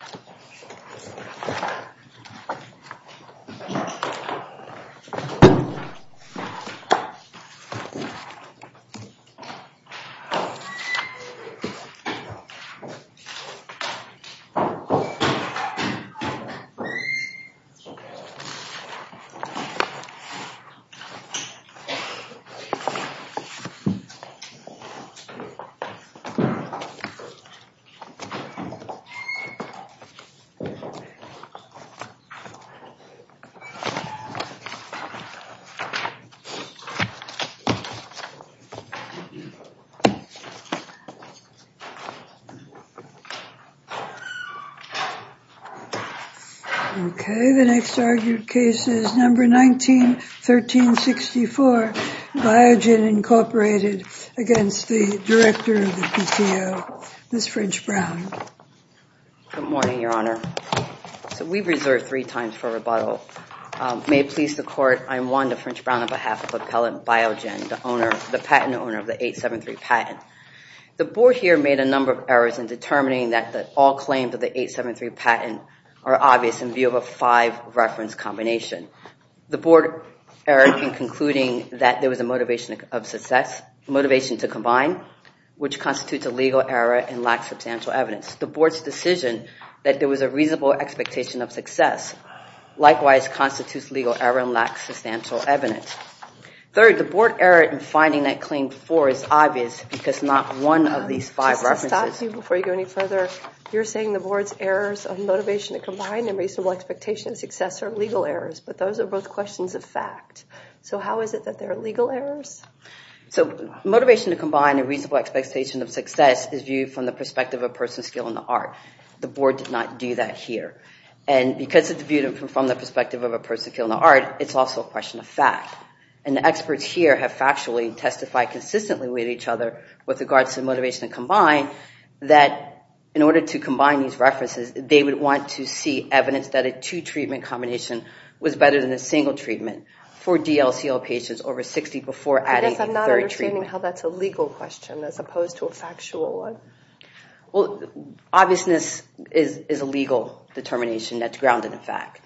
and from the from and from and from and from and from and from and 1964 Biogen Incorporated against the director of the PCO, Ms. French-Brown. Good morning, Your Honor. So we've reserved three times for rebuttal. May it please the court, I'm Wanda French-Brown on behalf of Appellant Biogen, the owner, the patent owner of the 873 patent. The board here made a number of errors in determining that all claims of the 873 patent are obvious in view of a five reference combination. The board error in concluding that there was a motivation of success, motivation to combine, which constitutes a legal error and lacks substantial evidence. The board's decision that there was a reasonable expectation of success likewise constitutes legal error and lacks substantial evidence. Third, the board error in finding that claim four is obvious because not one of these five references... But those are both questions of fact. So how is it that there are legal errors? So motivation to combine a reasonable expectation of success is viewed from the perspective of a person's skill in the art. The board did not do that here. And because it's viewed from the perspective of a person's skill in the art, it's also a question of fact. And the experts here have factually testified consistently with each other with regards to motivation to combine that in order to combine these references, they would want to see evidence that a two-treatment combination was better than a single treatment for DLCL patients over 60 before adding a third treatment. I guess I'm not understanding how that's a legal question as opposed to a factual one. Well, obviousness is a legal determination that's grounded in fact.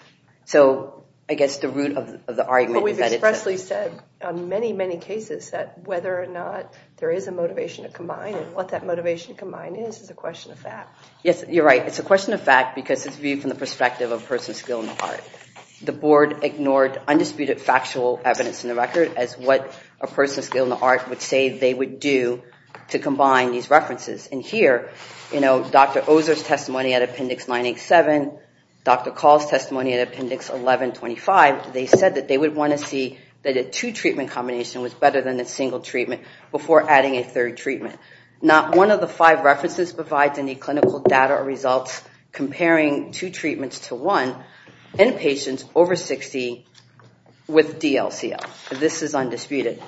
So I guess the root of the argument is that it's... But we've expressly said on many, many cases that whether or not there is a motivation to combine, and what that motivation to combine is, is a question of fact. Yes, you're right. It's a question of fact because it's viewed from the perspective of a person's skill in the art. The board ignored undisputed factual evidence in the record as what a person's skill in the art would say they would do to combine these references. And here, you know, Dr. Ozer's testimony at Appendix 987, Dr. Call's testimony at Appendix 1125, they said that they would want to see that a two-treatment combination was better than a single treatment before adding a third treatment. Not one of the five references provides any clinical data or results comparing two treatments to one in patients over 60 with DLCL. This is undisputed.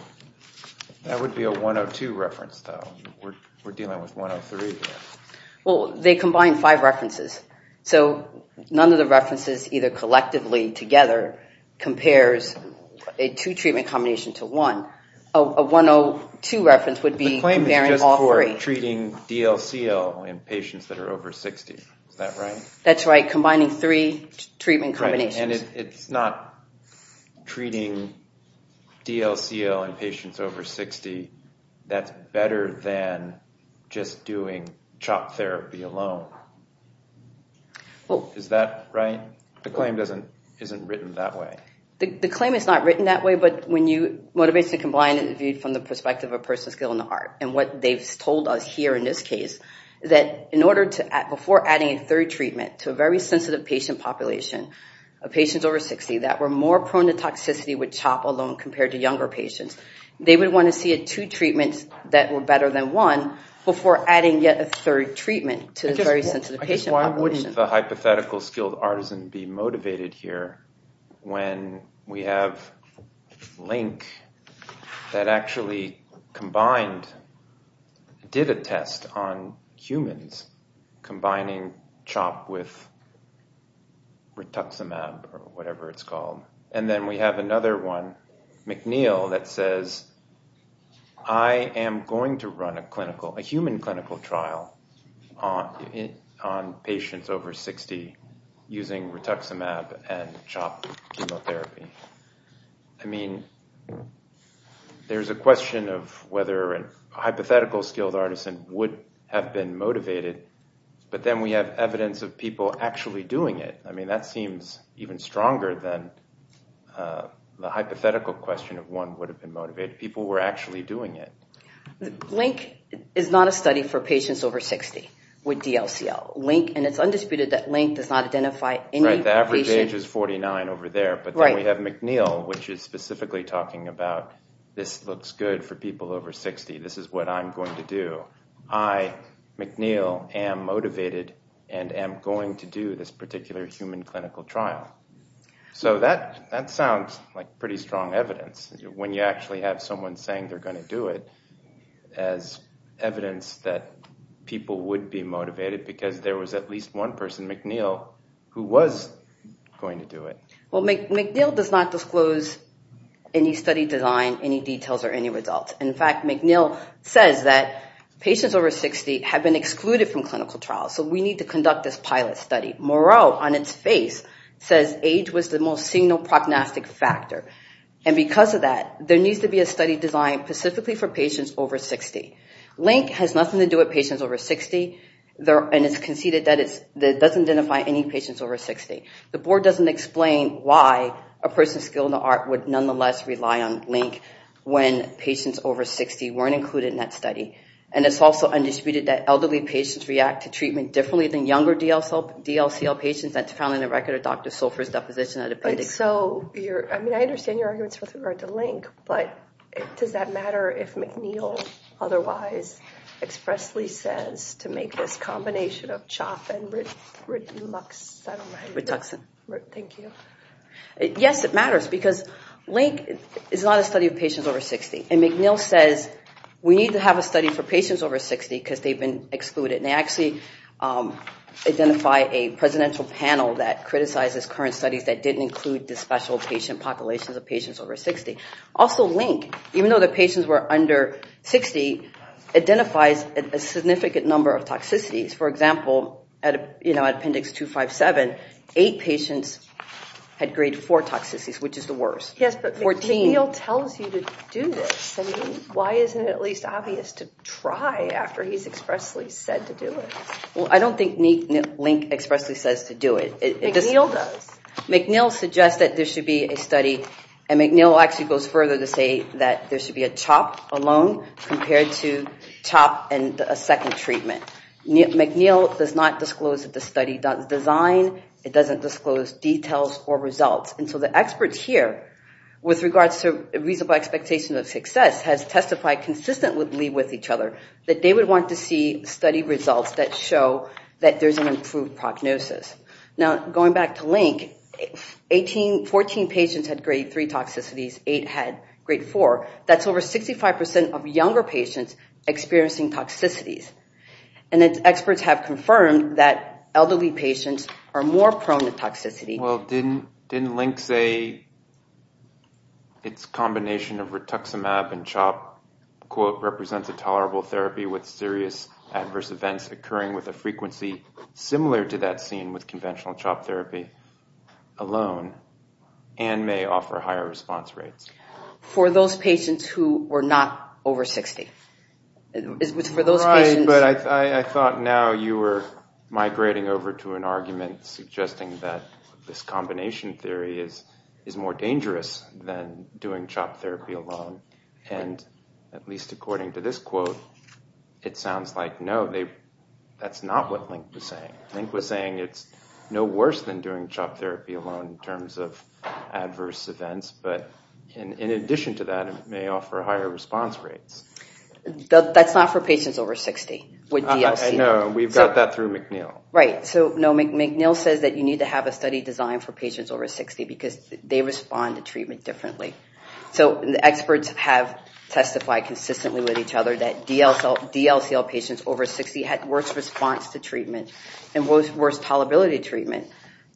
That would be a 102 reference, though. We're dealing with 103. Well, they combine five references. So none of the references, either collectively or together, compares a two-treatment combination to one. A 102 reference would be comparing all three. The claim is just for treating DLCL in patients that are over 60. Is that right? That's right. Combining three treatment combinations. And it's not treating DLCL in patients over 60. That's better than just doing CHOP therapy alone. Well, is that right? The claim isn't written that way. The claim is not written that way, but when you motivate to combine it viewed from the perspective of a person's skill in the heart. And what they've told us here in this case, that in order to add, before adding a third treatment to a very sensitive patient population of patients over 60 that were more prone to toxicity with CHOP alone compared to younger patients, they would want to see a two-treatment that were better than one before adding yet a third treatment to the very sensitive patient population. Why wouldn't the hypothetical skilled artisan be motivated here when we have Link that actually combined, did a test on humans combining CHOP with Rituximab or whatever it's called. And then we have another one, McNeil, that says, I am going to run a clinical, a human clinical trial on patients over 60 using Rituximab and CHOP chemotherapy. I mean, there's a question of whether a hypothetical skilled artisan would have been motivated, but then we have evidence of people actually doing it. I mean, that seems even stronger than the hypothetical question of one would have been motivated. People were actually doing it. Link is not a study for patients over 60 with DLCL. Link, and it's undisputed that Link does not identify any patient. Right, the average age is 49 over there. But then we have McNeil, which is specifically talking about this looks good for people over 60. This is what I'm going to do. I, McNeil, am motivated and am going to do this particular human clinical trial. So that, that sounds like pretty strong evidence when you actually have someone saying they're going to do it as evidence that people would be motivated because there was at least one person, McNeil, who was going to do it. Well, McNeil does not disclose any study design, any details, or any results. In fact, McNeil says that patients over 60 have been excluded from clinical trials, so we need to conduct this pilot study. Moreau, on its face, says age was the most single prognostic factor. And because of that, there needs to be a study designed specifically for patients over 60. Link has nothing to do with patients over 60. And it's conceded that it doesn't identify any patients over 60. The board doesn't explain why a person skilled in the art would nonetheless rely on Link when patients over 60 weren't included in that study. And it's also undisputed that elderly patients react to treatment differently than younger DLCL patients. That's found in the record of Dr. Sulfur's deposition at a pandemic. And so, I mean, I understand your arguments with regard to Link, but does that matter if McNeil otherwise expressly says to make this combination of CHOP and Rituxan? Yes, it matters because Link is not a study of patients over 60. And McNeil says we need to have a study for patients over 60 because they've been excluded. And actually identify a presidential panel that criticizes current studies that didn't include the special patient populations of patients over 60. Also, Link, even though the patients were under 60, identifies a significant number of toxicities. For example, at appendix 257, eight patients had grade four toxicities, which is the worst. Yes, but McNeil tells you to do this. Why isn't it at least obvious to try after he's expressly said to do it? Well, I don't think Link expressly says to do it. McNeil does. McNeil suggests that there should be a study and McNeil actually goes further to say that there should be a CHOP alone compared to CHOP and a second treatment. McNeil does not disclose that the study doesn't design. It doesn't disclose details or results. And so the experts here, with regards to reasonable expectations of success, has testified consistently with each other that they would want to see study results that show that there's an improved prognosis. Now, going back to Link, 14 patients had grade three toxicities, eight had grade four. That's over 65% of younger patients experiencing toxicities. And its experts have confirmed that elderly patients are more prone to toxicity. Well, didn't Link say its combination of rituximab and CHOP quote, represents a tolerable therapy with serious adverse events occurring with a frequency similar to that seen with conventional CHOP therapy alone and may offer higher response rates. For those patients who were not over 60. But I thought now you were saying it was more dangerous than doing CHOP therapy alone. And at least according to this quote, it sounds like no, that's not what Link was saying. Link was saying it's no worse than doing CHOP therapy alone in terms of adverse events. But in addition to that, it may offer higher response rates. That's not for patients over 60. No, we've got that through McNeil. Right, so no, McNeil says that you need to have a study designed for patients over 60 because they respond to treatment differently. So the experts have testified consistently with each other that DLCL patients over 60 had worse response to treatment and was worse tolerability treatment.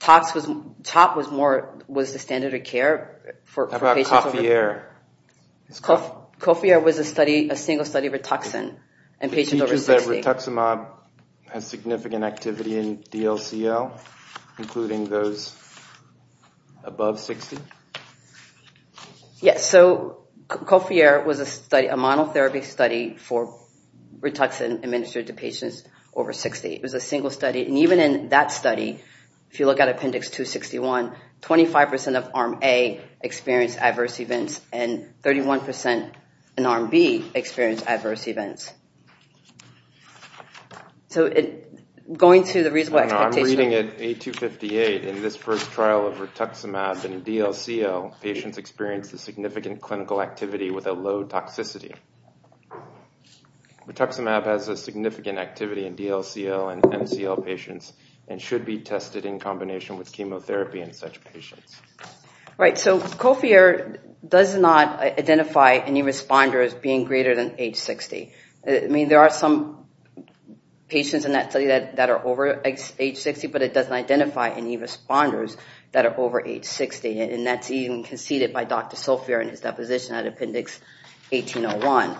CHOP was more, was the standard of care for patients. How about Coffier? Coffier was a study, a single study, of rituximab and patients over 60. So you're saying that rituximab has significant activity in DLCL, including those above 60? Yes, so Coffier was a study, a monotherapy study for rituximab administered to patients over 60. It was a single study. And even in that study, if you look at Appendix 261, 25% of Arm A experienced adverse events and 31% in Arm B experienced adverse events. So, going to the reasonable expectation... I'm reading it, A258, in this first trial of rituximab and DLCL, patients experienced a significant clinical activity with a low toxicity. Rituximab has a significant activity in DLCL and MCL patients and should be tested in combination with chemotherapy in such patients. Right, so Coffier does not identify any responders being greater than age 60. I mean, there are some patients in that study that are over age 60, but it doesn't identify any responders that are over age 60, and that's even conceded by Dr. Coffier in his deposition at Appendix 1801.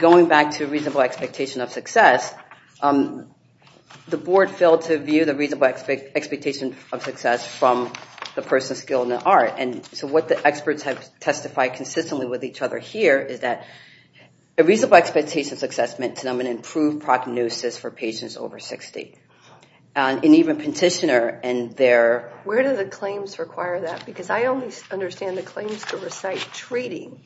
Going back to reasonable expectation of success, the board failed to view the reasonable expectation of success from the person skilled in the art. And so what the experts have testified consistently with each other here is that a reasonable expectation of success meant to them an improved prognosis for patients over 60. And even petitioner and their... Where do the claims require that? Because I only understand the claims to recite treating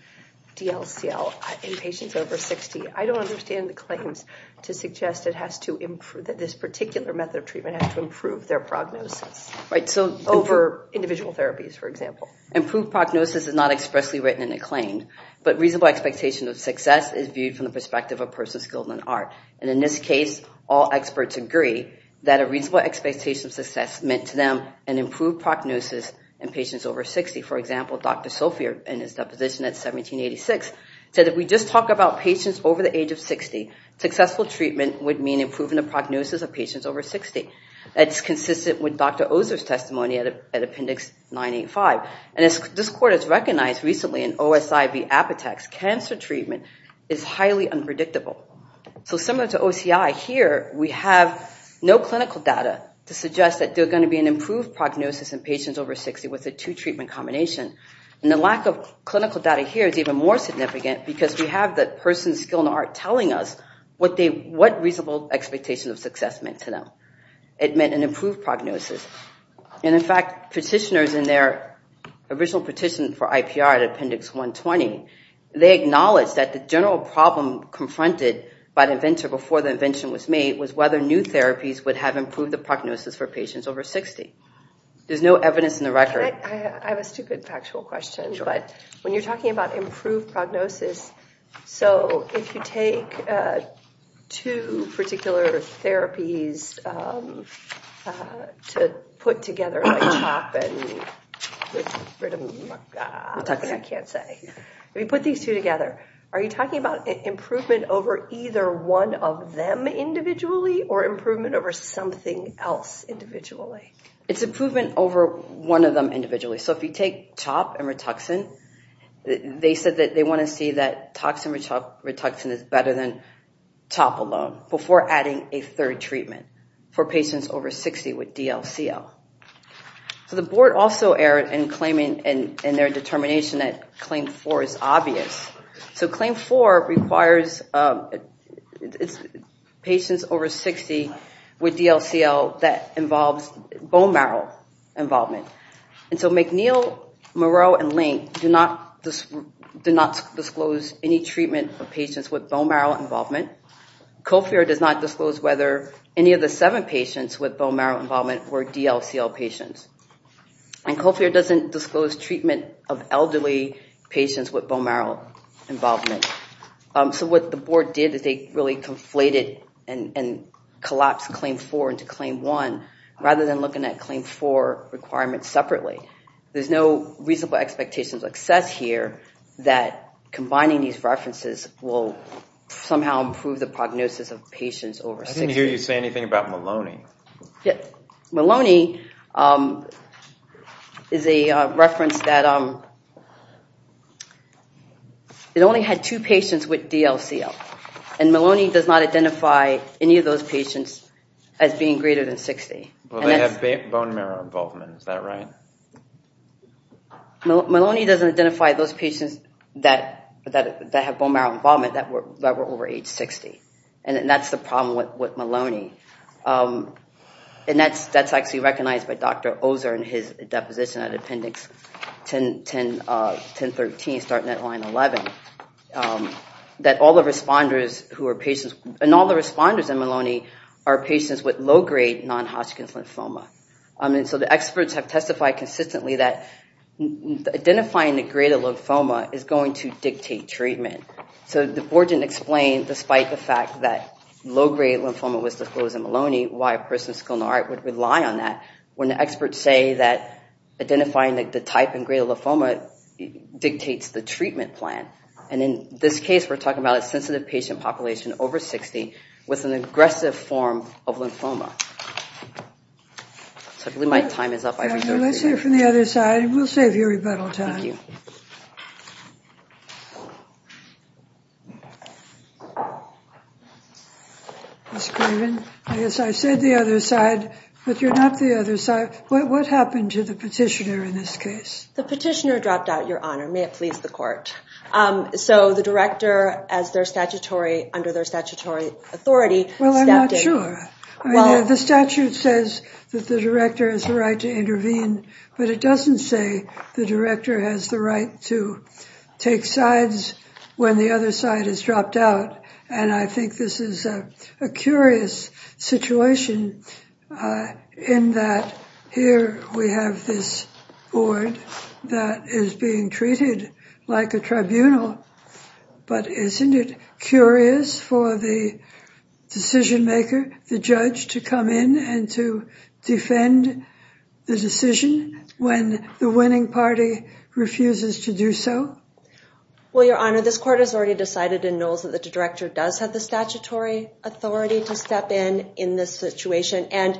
DLCL in patients over 60. I don't understand the claims to suggest it has to improve, that this particular method of treatment has to improve their prognosis. Right, so... Over individual therapies, for example. Improved prognosis is not expressly written in a claim, but reasonable expectation of success is viewed from the perspective of a person skilled in art. And in this case, all experts agree that a reasonable expectation of success meant to them an improved prognosis in patients over 60. For example, Dr. Coffier, in his deposition at 1786, said if we just talk about patients over the age of 60, successful treatment would mean improving the prognosis of patients over 60. That's consistent with Dr. Coffier's deposition at 1786, 985. And as this court has recognized recently in OSIV-Apotex, cancer treatment is highly unpredictable. So similar to OCI, here we have no clinical data to suggest that there's going to be an improved prognosis in patients over 60 with a two treatment combination. And the lack of clinical data here is even more significant because we have the person's skill in art telling us what they... What reasonable expectation of success meant to them. It meant an improved prognosis. And in fact, petitioners in their original petition for IPR at Appendix 120, they acknowledged that the general problem confronted by the inventor before the invention was made was whether new therapies would have improved the prognosis for patients over 60. There's no evidence in the record. I have a stupid factual question, but when you're talking about improved prognosis, so if you take two particular therapies to put together like CHOP and Rituxan, I can't say. We put these two together. Are you talking about improvement over either one of them individually or improvement over something else individually? It's improvement over one of them individually. So if you take CHOP and Rituxan, they said that they want to see that toxin Rituxan is better than CHOP alone before adding a third treatment for patients over 60 with DLCL. So the board also erred in claiming in their determination that Claim 4 is obvious. So Claim 4 requires patients over 60 with DLCL that involves bone marrow involvement. And so McNeil, Moreau, and Link do not disclose any treatment for patients with bone marrow involvement. Colfer does not disclose whether any of the seven patients with bone marrow involvement were DLCL patients. And Colfer doesn't disclose treatment of elderly patients with bone marrow involvement. So what the board did is they really conflated and collapsed Claim 4 into Claim 1 rather than looking at Claim 4 requirements separately. There's no reasonable expectation of success here that combining these references will somehow improve the prognosis of patients over 60. I didn't hear you say anything about Maloney. Yeah, Maloney is a reference that it only had two patients with DLCL and Maloney does not identify any of those patients as being greater than 60. Well, they have bone marrow involvement, is that right? Maloney doesn't identify those patients that have bone marrow involvement that were over age 60. And that's the problem with Maloney. And that's actually recognized by Dr. Ozer in his deposition at Appendix 1013, starting at line 11, that all the responders who are patients, and all the responders in Maloney are patients with low-grade non-Hodgkin's lymphoma. And so the experts have testified consistently that identifying the greater lymphoma is going to dictate treatment. So the board didn't explain, despite the fact that low-grade lymphoma was disclosed in Maloney, why a person with skeletal heart would rely on that when the experts say that identifying the type and grade of lymphoma dictates the treatment plan. And in this case, we're talking about a sensitive patient population over 60 with an aggressive form of lymphoma. I believe my time is up. Let's hear from the other side. We'll save you rebuttal time. Ms. Craven, I guess I said the other side, but you're not the other side. What happened to the petitioner in this case? The petitioner dropped out, Your Honor. May it please the court. So the director, as their statutory, under their statutory authority... Well, I'm not sure. The statute says that the director has the right to intervene, but it doesn't say the director has the right to take sides when the other side has dropped out. And I think this is a curious situation in that here we have this board that is being treated like a tribunal, but isn't it curious for the decision-maker, the judge, to come in and to defend the decision when the winning party refuses to do so? Well, Your Honor, this court has already decided and knows that the director does have the statutory authority to step in in this situation, and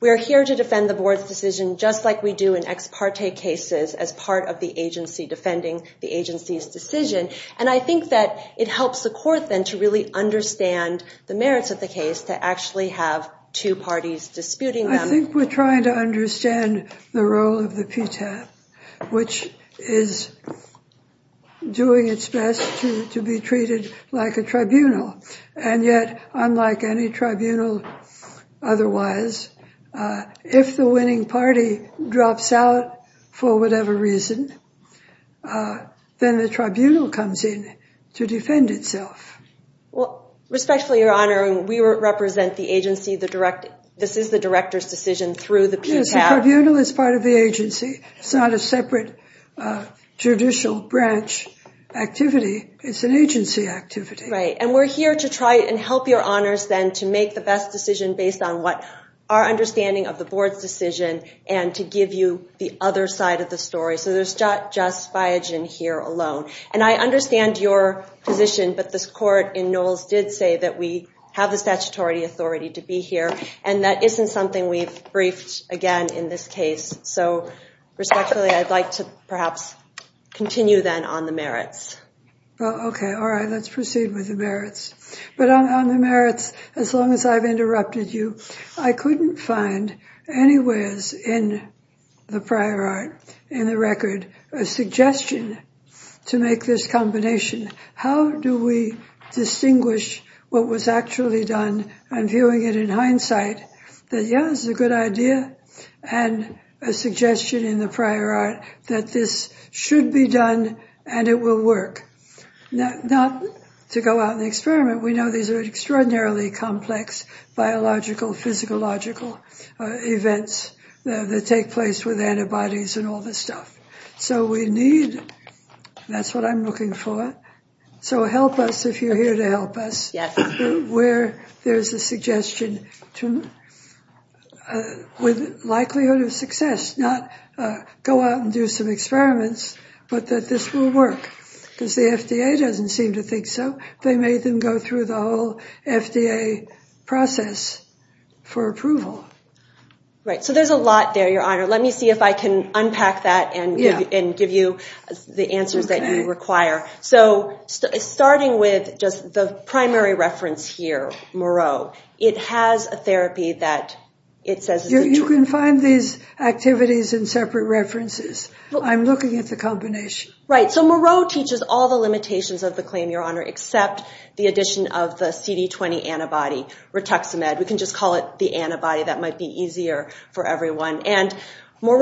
we're here to defend the board's decision just like we do in ex parte cases as part of the agency defending the agency's decision. And I think that it helps the court then to really understand the merits of the case to actually have two parties disputing them. I think we're trying to understand the role of the PTAP, which is doing its best to be treated like a tribunal. And yet, unlike any tribunal otherwise, if the winning party drops out for whatever reason, then the tribunal comes in to defend itself. Well, respectfully, Your Honor, we represent the agency. This is the director's decision through the PTAP. The tribunal is part of the agency. It's not a separate judicial branch activity. It's an agency activity. Right. And we're here to try and help Your Honors then to make the best decision based on what our understanding of the board's decision and to give you the other side of the story. So there's not just Biogen here alone. And I understand your position, but this court in Knowles did say that we have the statutory authority to be here, and that isn't something we've briefed again in this case. So respectfully, I'd like to perhaps continue then on the merits. Okay. All right. Let's proceed with the merits. But on the merits, as long as I've interrupted you, I couldn't find anywhere in the prior art, in the record, a suggestion to make this combination. How do we distinguish what was actually done? I'm viewing it in hindsight that, yes, it's a good idea. And a suggestion in the prior art that this should be done, and it will work. Not to go out and experiment. We know these are extraordinarily complex biological, physiological events that take place with antibodies and all this stuff. So we need, that's what I'm looking for, so help us if you're here to help us. Yes. Where there's a suggestion to with likelihood of success, not go out and do some experiments, but that this will work. Because the FDA doesn't seem to think so. They made them go through the whole FDA process for approval. Right. So there's a lot there, Your Honor. Let me see if I can unpack that and give you the answers that you require. So, starting with just the primary reference here, Moreau, it has a therapy that it says... You can find these activities in separate references. I'm looking at the combination. Right. So Moreau teaches all the limitations of the claim, Your Honor, except the addition of the CD20 antibody, Rituximab. We can just call it the antibody. That might be easier for everyone. And that's for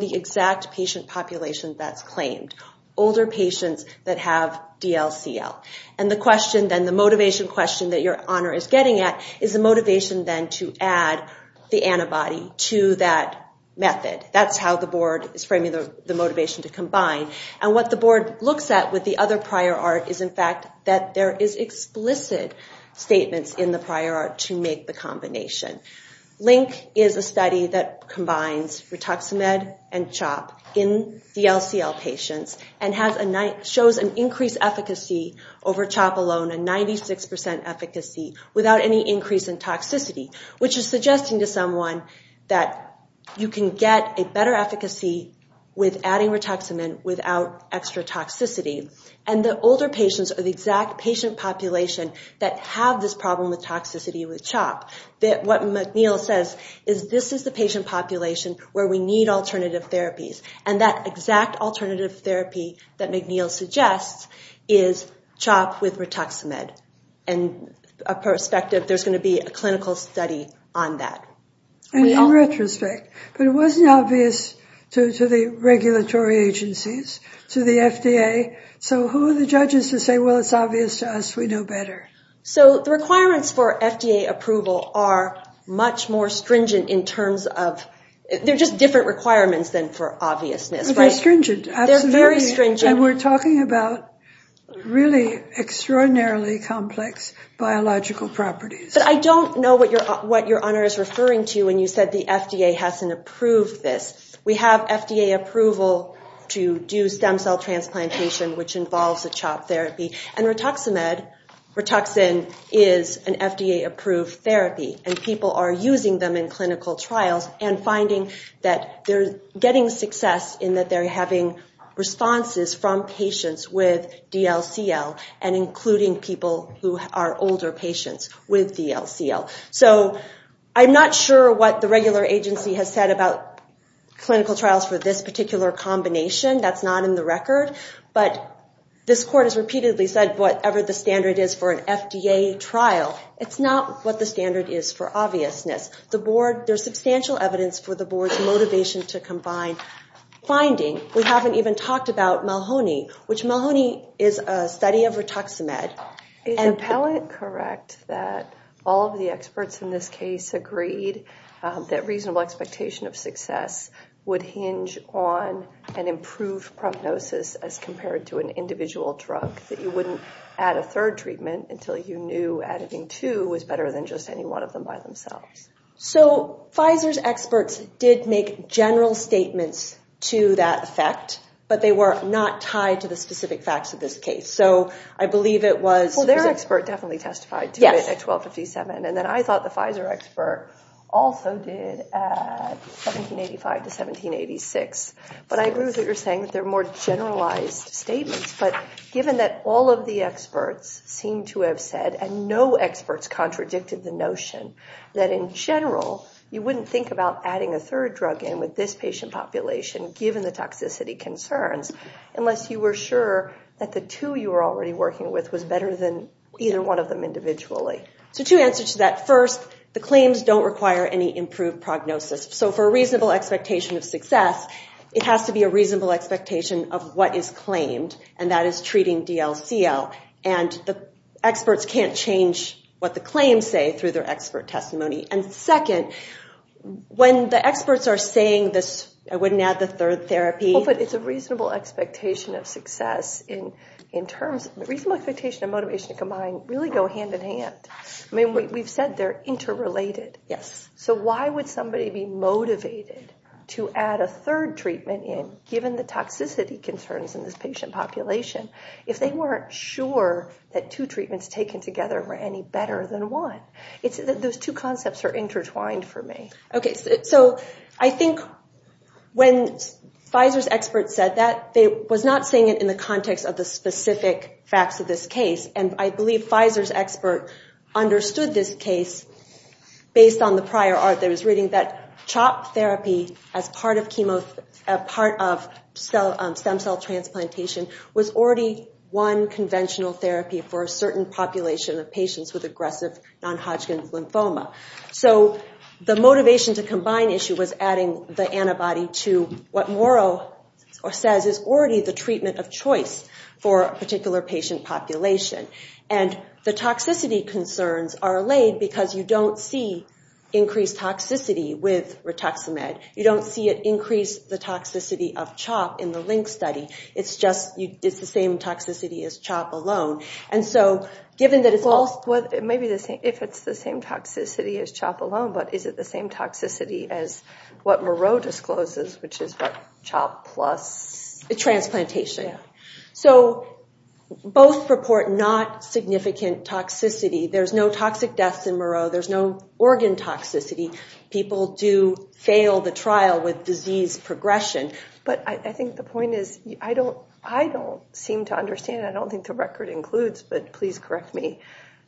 the exact patient population that's claimed. Older patients that have DLCL. And the question then, the motivation question that Your Honor is getting at, is the motivation then to add the antibody to that method. That's how the board is framing the motivation to combine. And what the board looks at with the other prior art is, in fact, that there is explicit statements in the prior art to make the combination. Link is a study that combines Rituximab and CHOP in DLCL patients and shows an increased efficacy over CHOP alone, a 96% efficacy without any increase in toxicity, which is suggesting to someone that you can get a better efficacy with adding Rituximab without extra toxicity. And the older patients are the exact patient population that have this problem with toxicity with CHOP. That what McNeil says is this is the patient population where we need alternative therapies. And that exact alternative therapy that McNeil suggests is CHOP with Rituximab. And a perspective, there's going to be a clinical study on that. In retrospect, but it wasn't obvious to the regulatory agencies, to the FDA. So who are the judges to say, well, it's obvious to us. We know better. So the requirements for FDA approval are much more stringent in terms of... They're just different requirements than for obviousness. They're stringent. They're very stringent. And we're talking about really extraordinarily complex biological properties. But I don't know what your what your honor is referring to when you said the FDA hasn't approved this. We have FDA approval to do stem cell transplantation, which involves a CHOP therapy. And Rituximab, Rituxan, is an FDA approved therapy. And people are using them in clinical trials and finding that they're getting success in that they're having responses from patients with DLCL and including people who are older patients with DLCL. So I'm not sure what the regular agency has said about clinical trials for this particular combination. That's not in the record. But this court has repeatedly said whatever the standard is for an FDA trial, it's not what the standard is for obviousness. The board, there's substantial evidence for the board's motivation to combine finding. We haven't even talked about Malhoni, which Malhoni is a study of Rituximab. Is the palette correct that all of the experts in this case agreed that reasonable expectation of success would hinge on an improved prognosis as compared to an individual drug, that you wouldn't add a third treatment until you knew adding two was better than just any one of them by themselves. So Pfizer's experts did make general statements to that effect, but they were not tied to the specific facts of this case. So I believe it was their expert definitely testified to it at 1257. And then I thought the Pfizer expert also did at 1785 to 1786. But I agree with what you're saying that they're more generalized statements. But given that all of the experts seem to have said, and no experts contradicted the notion, that in general you wouldn't think about adding a third drug in with this patient population, given the toxicity concerns, unless you were sure that the two you were already working with was better than either one of them individually. So two answers to that. First, the claims don't require any improved prognosis. So for a reasonable expectation of success, it has to be a reasonable expectation of what is claimed, and that is treating DLCO. And the experts can't change what the claims say through their expert testimony. And second, when the experts are saying this, I wouldn't add the third therapy... But it's a reasonable expectation of success in terms... reasonable expectation and motivation combined really go hand-in-hand. I mean, we've said they're interrelated. Yes. So why would somebody be motivated to add a third treatment in, given the toxicity concerns in this patient population, if they weren't sure that two treatments taken together were any better than one? It's that those two concepts are intertwined for me. Okay, so I think when Pfizer's experts said that, they was not saying it in the context of the specific facts of this case, and I believe Pfizer's expert understood this case based on the prior art that was written, that CHOP therapy as part of chemo... part of stem cell transplantation was already one conventional therapy for a certain population of patients with aggressive non-Hodgkin's lymphoma. So the motivation to combine issue was adding the antibody to what Moreau says is already the treatment of choice for a particular patient population. And the toxicity concerns are allayed because you don't see increased toxicity with Rituximab. You don't see it increase the toxicity of CHOP in the link study. It's just... it's the same toxicity as CHOP alone. And so, given that it's all... Well, it may be the same... if it's the same toxicity as CHOP alone, but is it the same toxicity as what Moreau discloses, which is what CHOP plus... Transplantation. So, both report not significant toxicity. There's no toxic deaths in Moreau. There's no organ toxicity. People do fail the trial with disease progression. But I think the point is, I don't... I don't seem to understand. I don't think the record includes, but please correct me,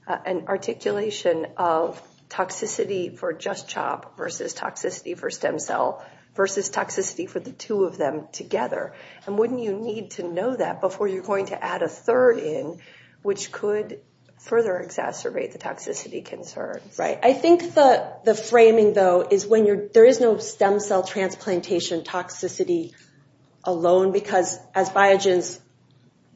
an articulation of Rituximab for just CHOP versus toxicity for stem cell versus toxicity for the two of them together. And wouldn't you need to know that before you're going to add a third in, which could further exacerbate the toxicity concerns? Right. I think the the framing, though, is when you're... there is no stem cell transplantation toxicity alone, because as Biogen's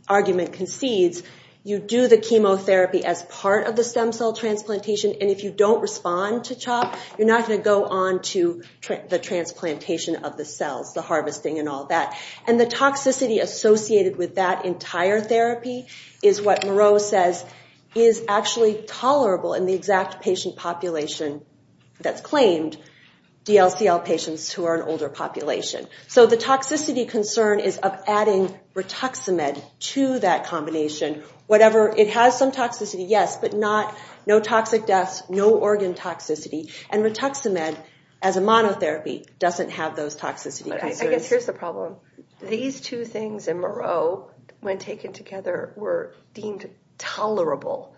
argument concedes, you do the chemotherapy as part of the stem cell transplantation. And if you don't respond to CHOP, you're not going to go on to the transplantation of the cells, the harvesting, and all that. And the toxicity associated with that entire therapy is what Moreau says is actually tolerable in the exact patient population that's claimed DLCL patients who are an older population. So the toxicity concern is of adding Rituximab to that combination. Whatever, it has some toxicity, yes, but not... no toxic deaths, no organ toxicity. And Rituximab, as a monotherapy, doesn't have those toxicity concerns. I guess here's the problem. These two things in Moreau, when taken together, were deemed tolerable.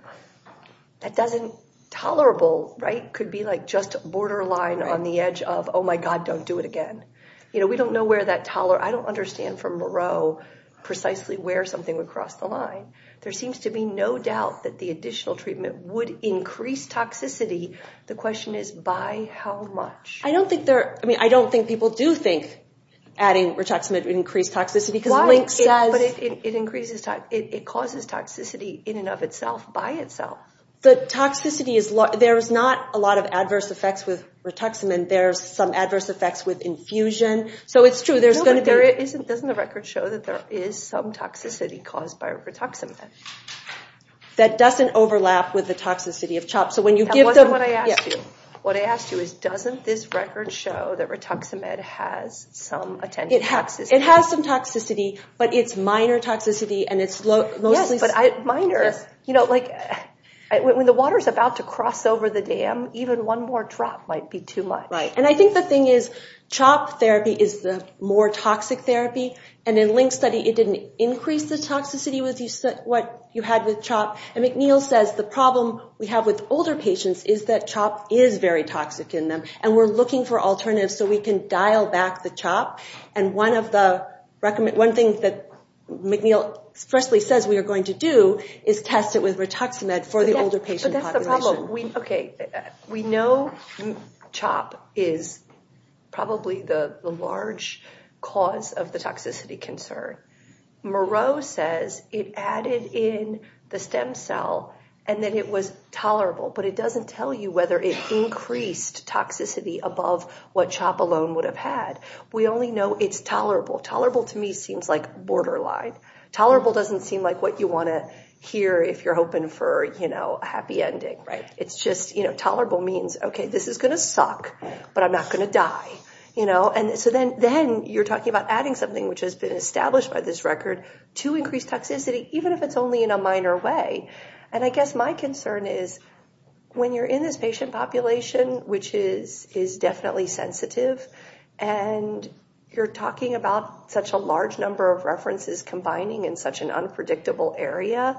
That doesn't... Tolerable, right, could be like just a borderline on the edge of, oh my god, don't do it again. You know, we don't know where that toler... I don't understand from Moreau precisely where something would cross the line. There seems to be no doubt that the additional treatment would increase toxicity. The question is by how much? I don't think there... I mean, I don't think people do think adding Rituximab would increase toxicity because... Why? But it increases... it causes toxicity in and of itself, by itself. The toxicity is... there's not a lot of adverse effects with Rituximab. There's some adverse effects with infusion. So it's true, there's going to be... But doesn't the record show that there is some toxicity caused by Rituximab? That doesn't overlap with the toxicity of CHOP. So when you give them... That wasn't what I asked you. What I asked you is, doesn't this record show that Rituximab has some attention to toxicity? It has some toxicity, but it's minor toxicity, and it's mostly... Yes, but I... minor, you know, like... When the water is about to cross over the dam, even one more drop might be too much. Right, and I think the thing is CHOP therapy is the more toxic therapy, and in Link's study, it didn't increase the toxicity with what you had with CHOP, and McNeil says the problem we have with older patients is that CHOP is very toxic in them, and we're looking for alternatives so we can dial back the CHOP, and one of the... One thing that McNeil expressly says we are going to do is test it with Rituximab for the older patient population. But that's the problem. Okay, we know CHOP is probably the large cause of the toxicity concern. Moreau says it added in the stem cell, and then it was tolerable, but it doesn't tell you whether it increased toxicity above what CHOP alone would have had. We only know it's tolerable. Tolerable to me seems like borderline. Tolerable doesn't seem like what you want to hear if you're hoping for, you know, a happy ending, right? It's just, you know, tolerable means, okay, this is gonna suck, but I'm not gonna die. You know, and so then you're talking about adding something which has been established by this record to increase toxicity, even if it's only in a minor way, and I guess my concern is when you're in this patient population, which is definitely sensitive, and you're talking about such a large number of references combining in such an unpredictable area,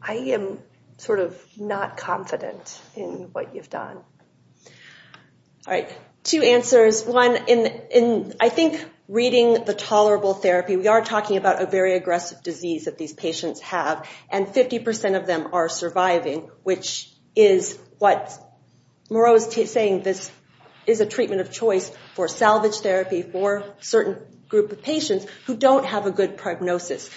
I am sort of not confident in what you've done. All right, two answers. One, in I think reading the tolerable therapy, we are talking about a very aggressive disease that these patients have, and 50% of them are surviving, which is what Moreau is saying this is a treatment of choice for salvage therapy for a certain group of patients who don't have a good prognosis.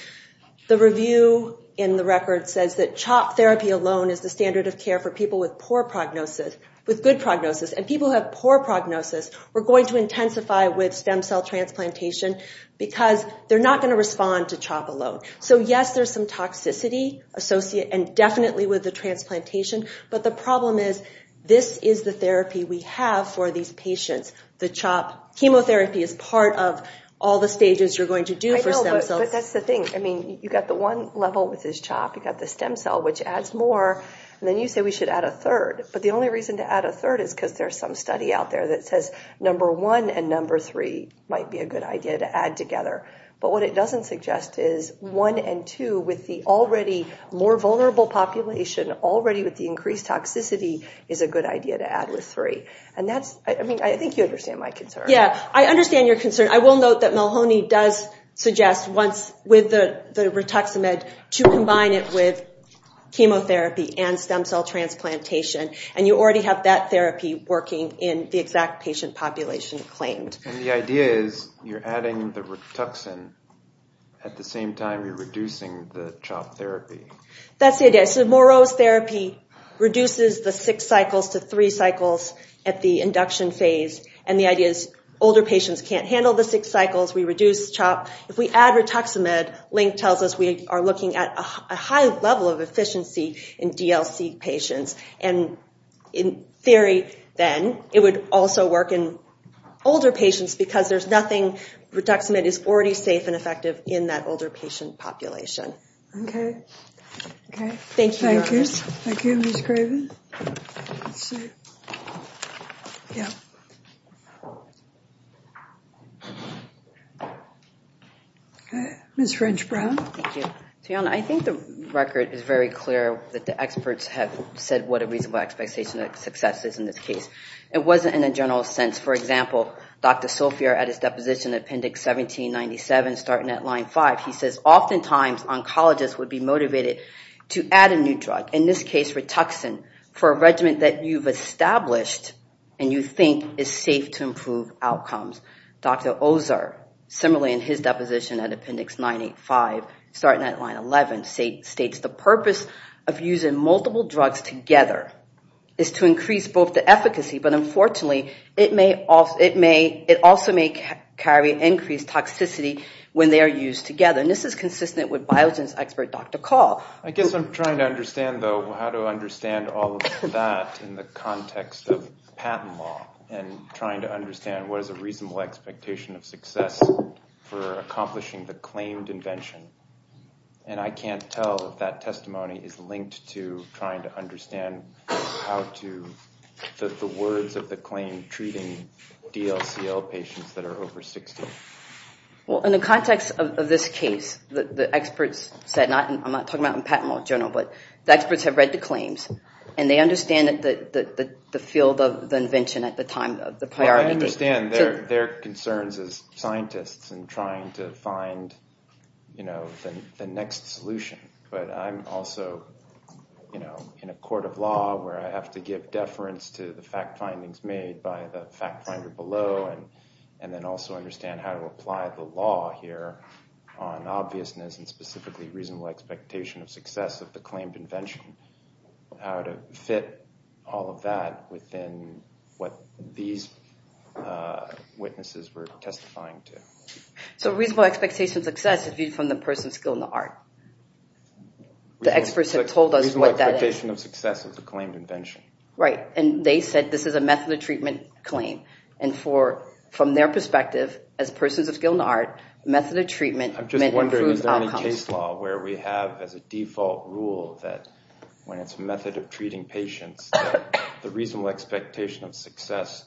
The review in the record says that CHOP therapy alone is the standard of care for people with poor prognosis, with good prognosis, and people who have poor prognosis, we're going to intensify with stem cell transplantation because they're not going to respond to CHOP alone. So yes, there's some toxicity associated, and definitely with the transplantation, but the problem is this is the therapy we have for these patients. The CHOP chemotherapy is part of all the stages you're going to do for stem cells. But that's the thing, I mean, you got the one level with this CHOP, you got the stem cell, which adds more, and then you say we should add a third, but the only reason to add a third is because there's some study out there that says number one and number three might be a good idea to add together. But what it doesn't suggest is one and two with the already more vulnerable population, already with the increased toxicity, is a good idea to add with three. And that's, I mean, I think you understand my concern. Yeah, I understand your concern. I will note that Melhoney does suggest once with the Rituximab to combine it with chemotherapy and stem cell transplantation, and you already have that therapy working in the exact patient population claimed. And the idea is you're adding the Rituxan at the same time you're reducing the CHOP therapy. That's it, yes. So Moreau's therapy reduces the six cycles to three cycles at the induction phase, and the idea is older patients can't handle the six cycles. We reduce CHOP. If we add Rituximab, Link tells us we are looking at a high level of efficiency in DLC patients, and in theory then it would also work in older patients because there's nothing, Rituximab is already safe and effective in that older patient population. Okay. Okay. Thank you. Thank you. Thank you, Ms. Craven. Ms. French-Brown. Thank you. I think the record is very clear that the experts have said what a reasonable expectation of success is in this case. It wasn't in a general sense. For example, Dr. Sophia at his deposition, Appendix 1797, starting at line 5, he says, oftentimes oncologists would be motivated to add a new drug, in this case Rituxan, for a regimen that you've established and you think is safe to improve outcomes. Dr. Ozer, similarly in his deposition at Appendix 985, starting at line 11, states the purpose of using multiple drugs together is to increase both the efficacy, but unfortunately it may also, it may, it also may carry increased toxicity when they are used together, and this is consistent with Biogen's expert, Dr. Call. I guess I'm trying to understand, though, how to understand all of that in the context of patent law and trying to understand what is a reasonable expectation of success for accomplishing the claimed invention, and I can't tell if that testimony is linked to trying to understand how to, the words of the claim, treating DLCL patients that are over 60. Well, in the context of this case, the experts said, not, I'm not talking about in patent law journal, but the experts have read the claims and they understand that the field of the invention at the time of the priority. I understand their concerns as scientists and trying to find, you know, the next solution, but I'm also, you know, in a court of law where I have to give a lot of thought to how to apply the law here on obviousness and specifically reasonable expectation of success of the claimed invention, how to fit all of that within what these witnesses were testifying to. So reasonable expectation of success is viewed from the person's skill in the art. The experts have told us what that is. Reasonable expectation of success of the claimed invention. Right, and they said this is a method of treatment claim, and for, from their perspective, as persons of skill in the art, method of treatment. I'm just wondering, is there any case law where we have as a default rule that when it's a method of treating patients, the reasonable expectation of success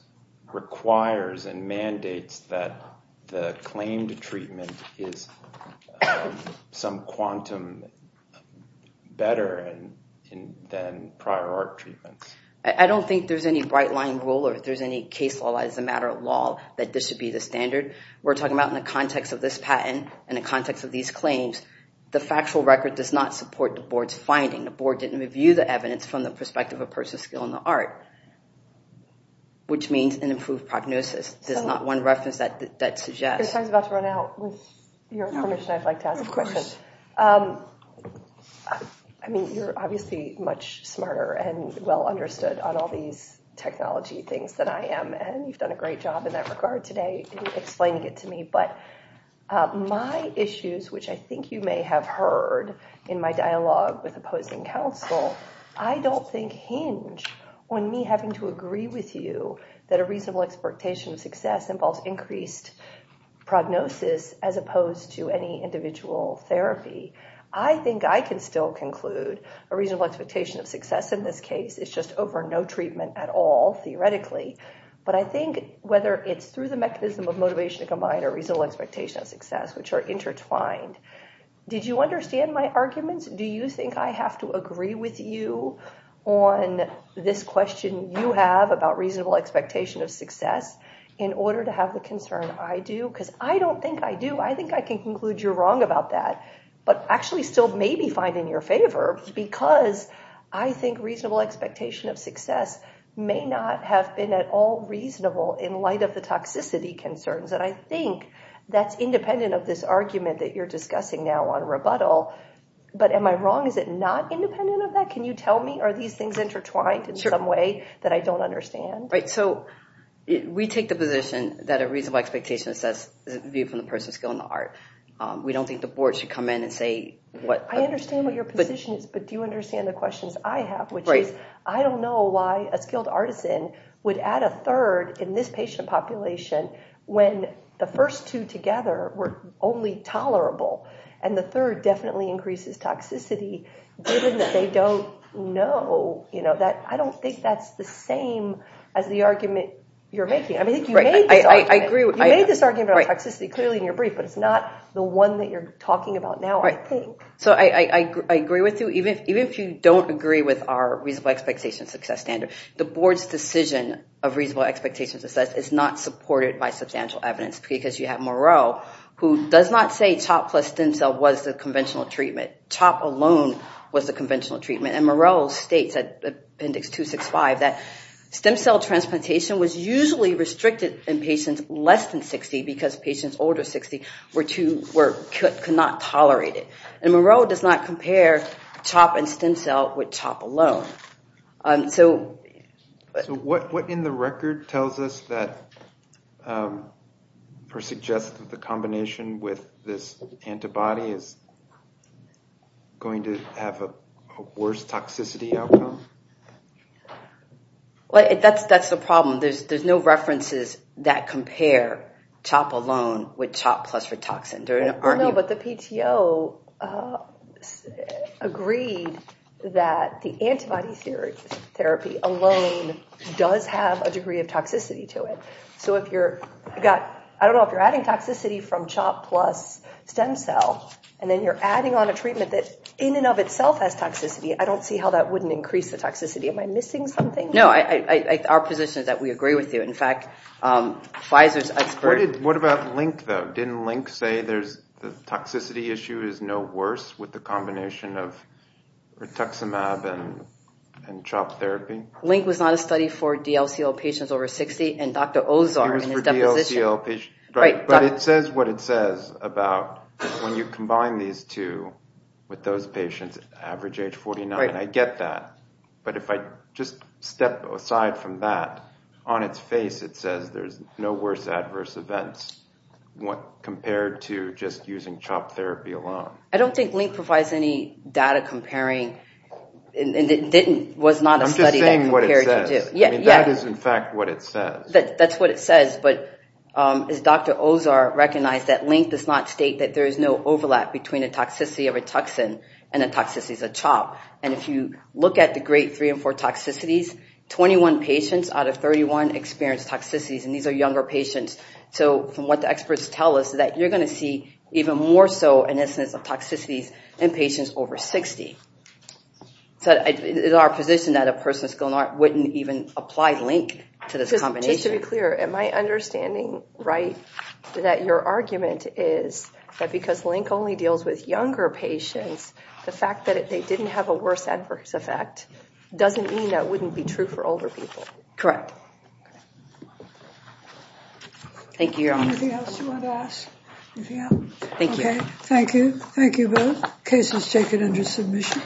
requires and mandates that the claimed treatment is some quantum better than prior art treatments? I don't think there's any bright line rule or if there's any case law as a matter of law that this should be the standard. We're talking about in the context of this patent and the context of these claims. The factual record does not support the board's finding. The board didn't review the evidence from the perspective of a person's skill in the art, which means an improved prognosis. There's not one reference that suggests. This time's about to run out. With your permission, I'd like to ask a question. I mean, you're obviously much smarter and well understood on all these technology things than I am, and you've done a great job in that regard today explaining it to me. But my issues, which I think you may have heard in my dialogue with opposing counsel, I don't think hinge on me having to agree with you that a reasonable expectation of success involves increased prognosis as opposed to any individual therapy. I think I can still conclude a reasonable expectation of success in this case is just over no treatment at all, theoretically. But I think whether it's through the mechanism of motivation to combine a reasonable expectation of success, which are intertwined. Did you understand my arguments? Do you think I have to agree with you on this question you have about reasonable expectation of success in order to have the concern I do? Because I don't think I do. I think I can conclude you're wrong about that, but actually still may be fine in your favor, because I think reasonable expectation of success may not have been at all reasonable in light of the toxicity concerns. And I think that's independent of this argument that you're discussing now on rebuttal. But am I wrong? Is it not independent of that? Can you tell me? Are these things intertwined in some way that I don't understand? Right. So we take the position that a reasonable expectation of success is viewed from the person's skill and the art. We don't think the board should come in and say what... I understand what your position is, but do you understand the questions I have, which is I don't know why a skilled artisan would add a third in this patient population when the first two together were only tolerable. And the third definitely increases toxicity, given that they don't know. I don't think that's the same as the argument you're making. I mean, you made this argument on toxicity clearly in your brief, but it's not the one that you're talking about now, I think. So I agree with you. Even if you don't agree with our reasonable expectation of success standard, the board's decision of reasonable expectation of success is not supported by substantial evidence because you have Moreau, who does not say CHOP plus stem cell was the conventional treatment. CHOP alone was the conventional treatment. And Moreau states at appendix 265 that stem cell transplantation was usually restricted in patients less than 60 because patients older than 60 could not tolerate it. And Moreau does not compare CHOP and stem cell with CHOP alone. So what in the record tells us that, or suggests that the combination with this antibody is going to have a worse toxicity outcome? Well, that's the problem. There's no references that compare CHOP alone with CHOP plus for toxin. But the PTO agreed that the antibody therapy alone does have a degree of toxicity to it. So if you're, I don't know if you're adding toxicity from CHOP plus stem cell, and then you're adding on a treatment that in and of itself has toxicity, I don't see how that wouldn't increase the toxicity. Am I missing something? No, our position is that we agree with you. In fact, Pfizer's expert... What about LINC, though? Didn't LINC say the toxicity issue is no worse with the combination of rituximab and CHOP therapy? LINC was not a study for DLCL patients over 60. And Dr. Ozar in his deposition... It was for DLCL patients, but it says what it says about when you combine these two with those patients average age 49. I get that. But if I just step aside from that, on its face it says there's no worse adverse events compared to just using CHOP therapy alone. I don't think LINC provides any data comparing... I'm just saying what it says. Yeah, yeah. That is in fact what it says. That's what it says. But as Dr. Ozar recognized that LINC does not state that there is no overlap between a toxicity of a toxin and a toxicity of a CHOP. And if you look at the great three and four toxicities, 21 patients out of 31 experienced toxicities. And these are younger patients. So from what the experts tell us that you're going to see even more so an instance of toxicities in patients over 60. So it is our position that a person with a skill in art wouldn't even apply LINC to this combination. Just to be clear, am I understanding right that your argument is that because LINC only has a worse adverse effect doesn't mean that wouldn't be true for older people? Correct. Thank you, Your Honor. Anything else you want to ask? Thank you. Thank you. Thank you both. Case is taken under submission.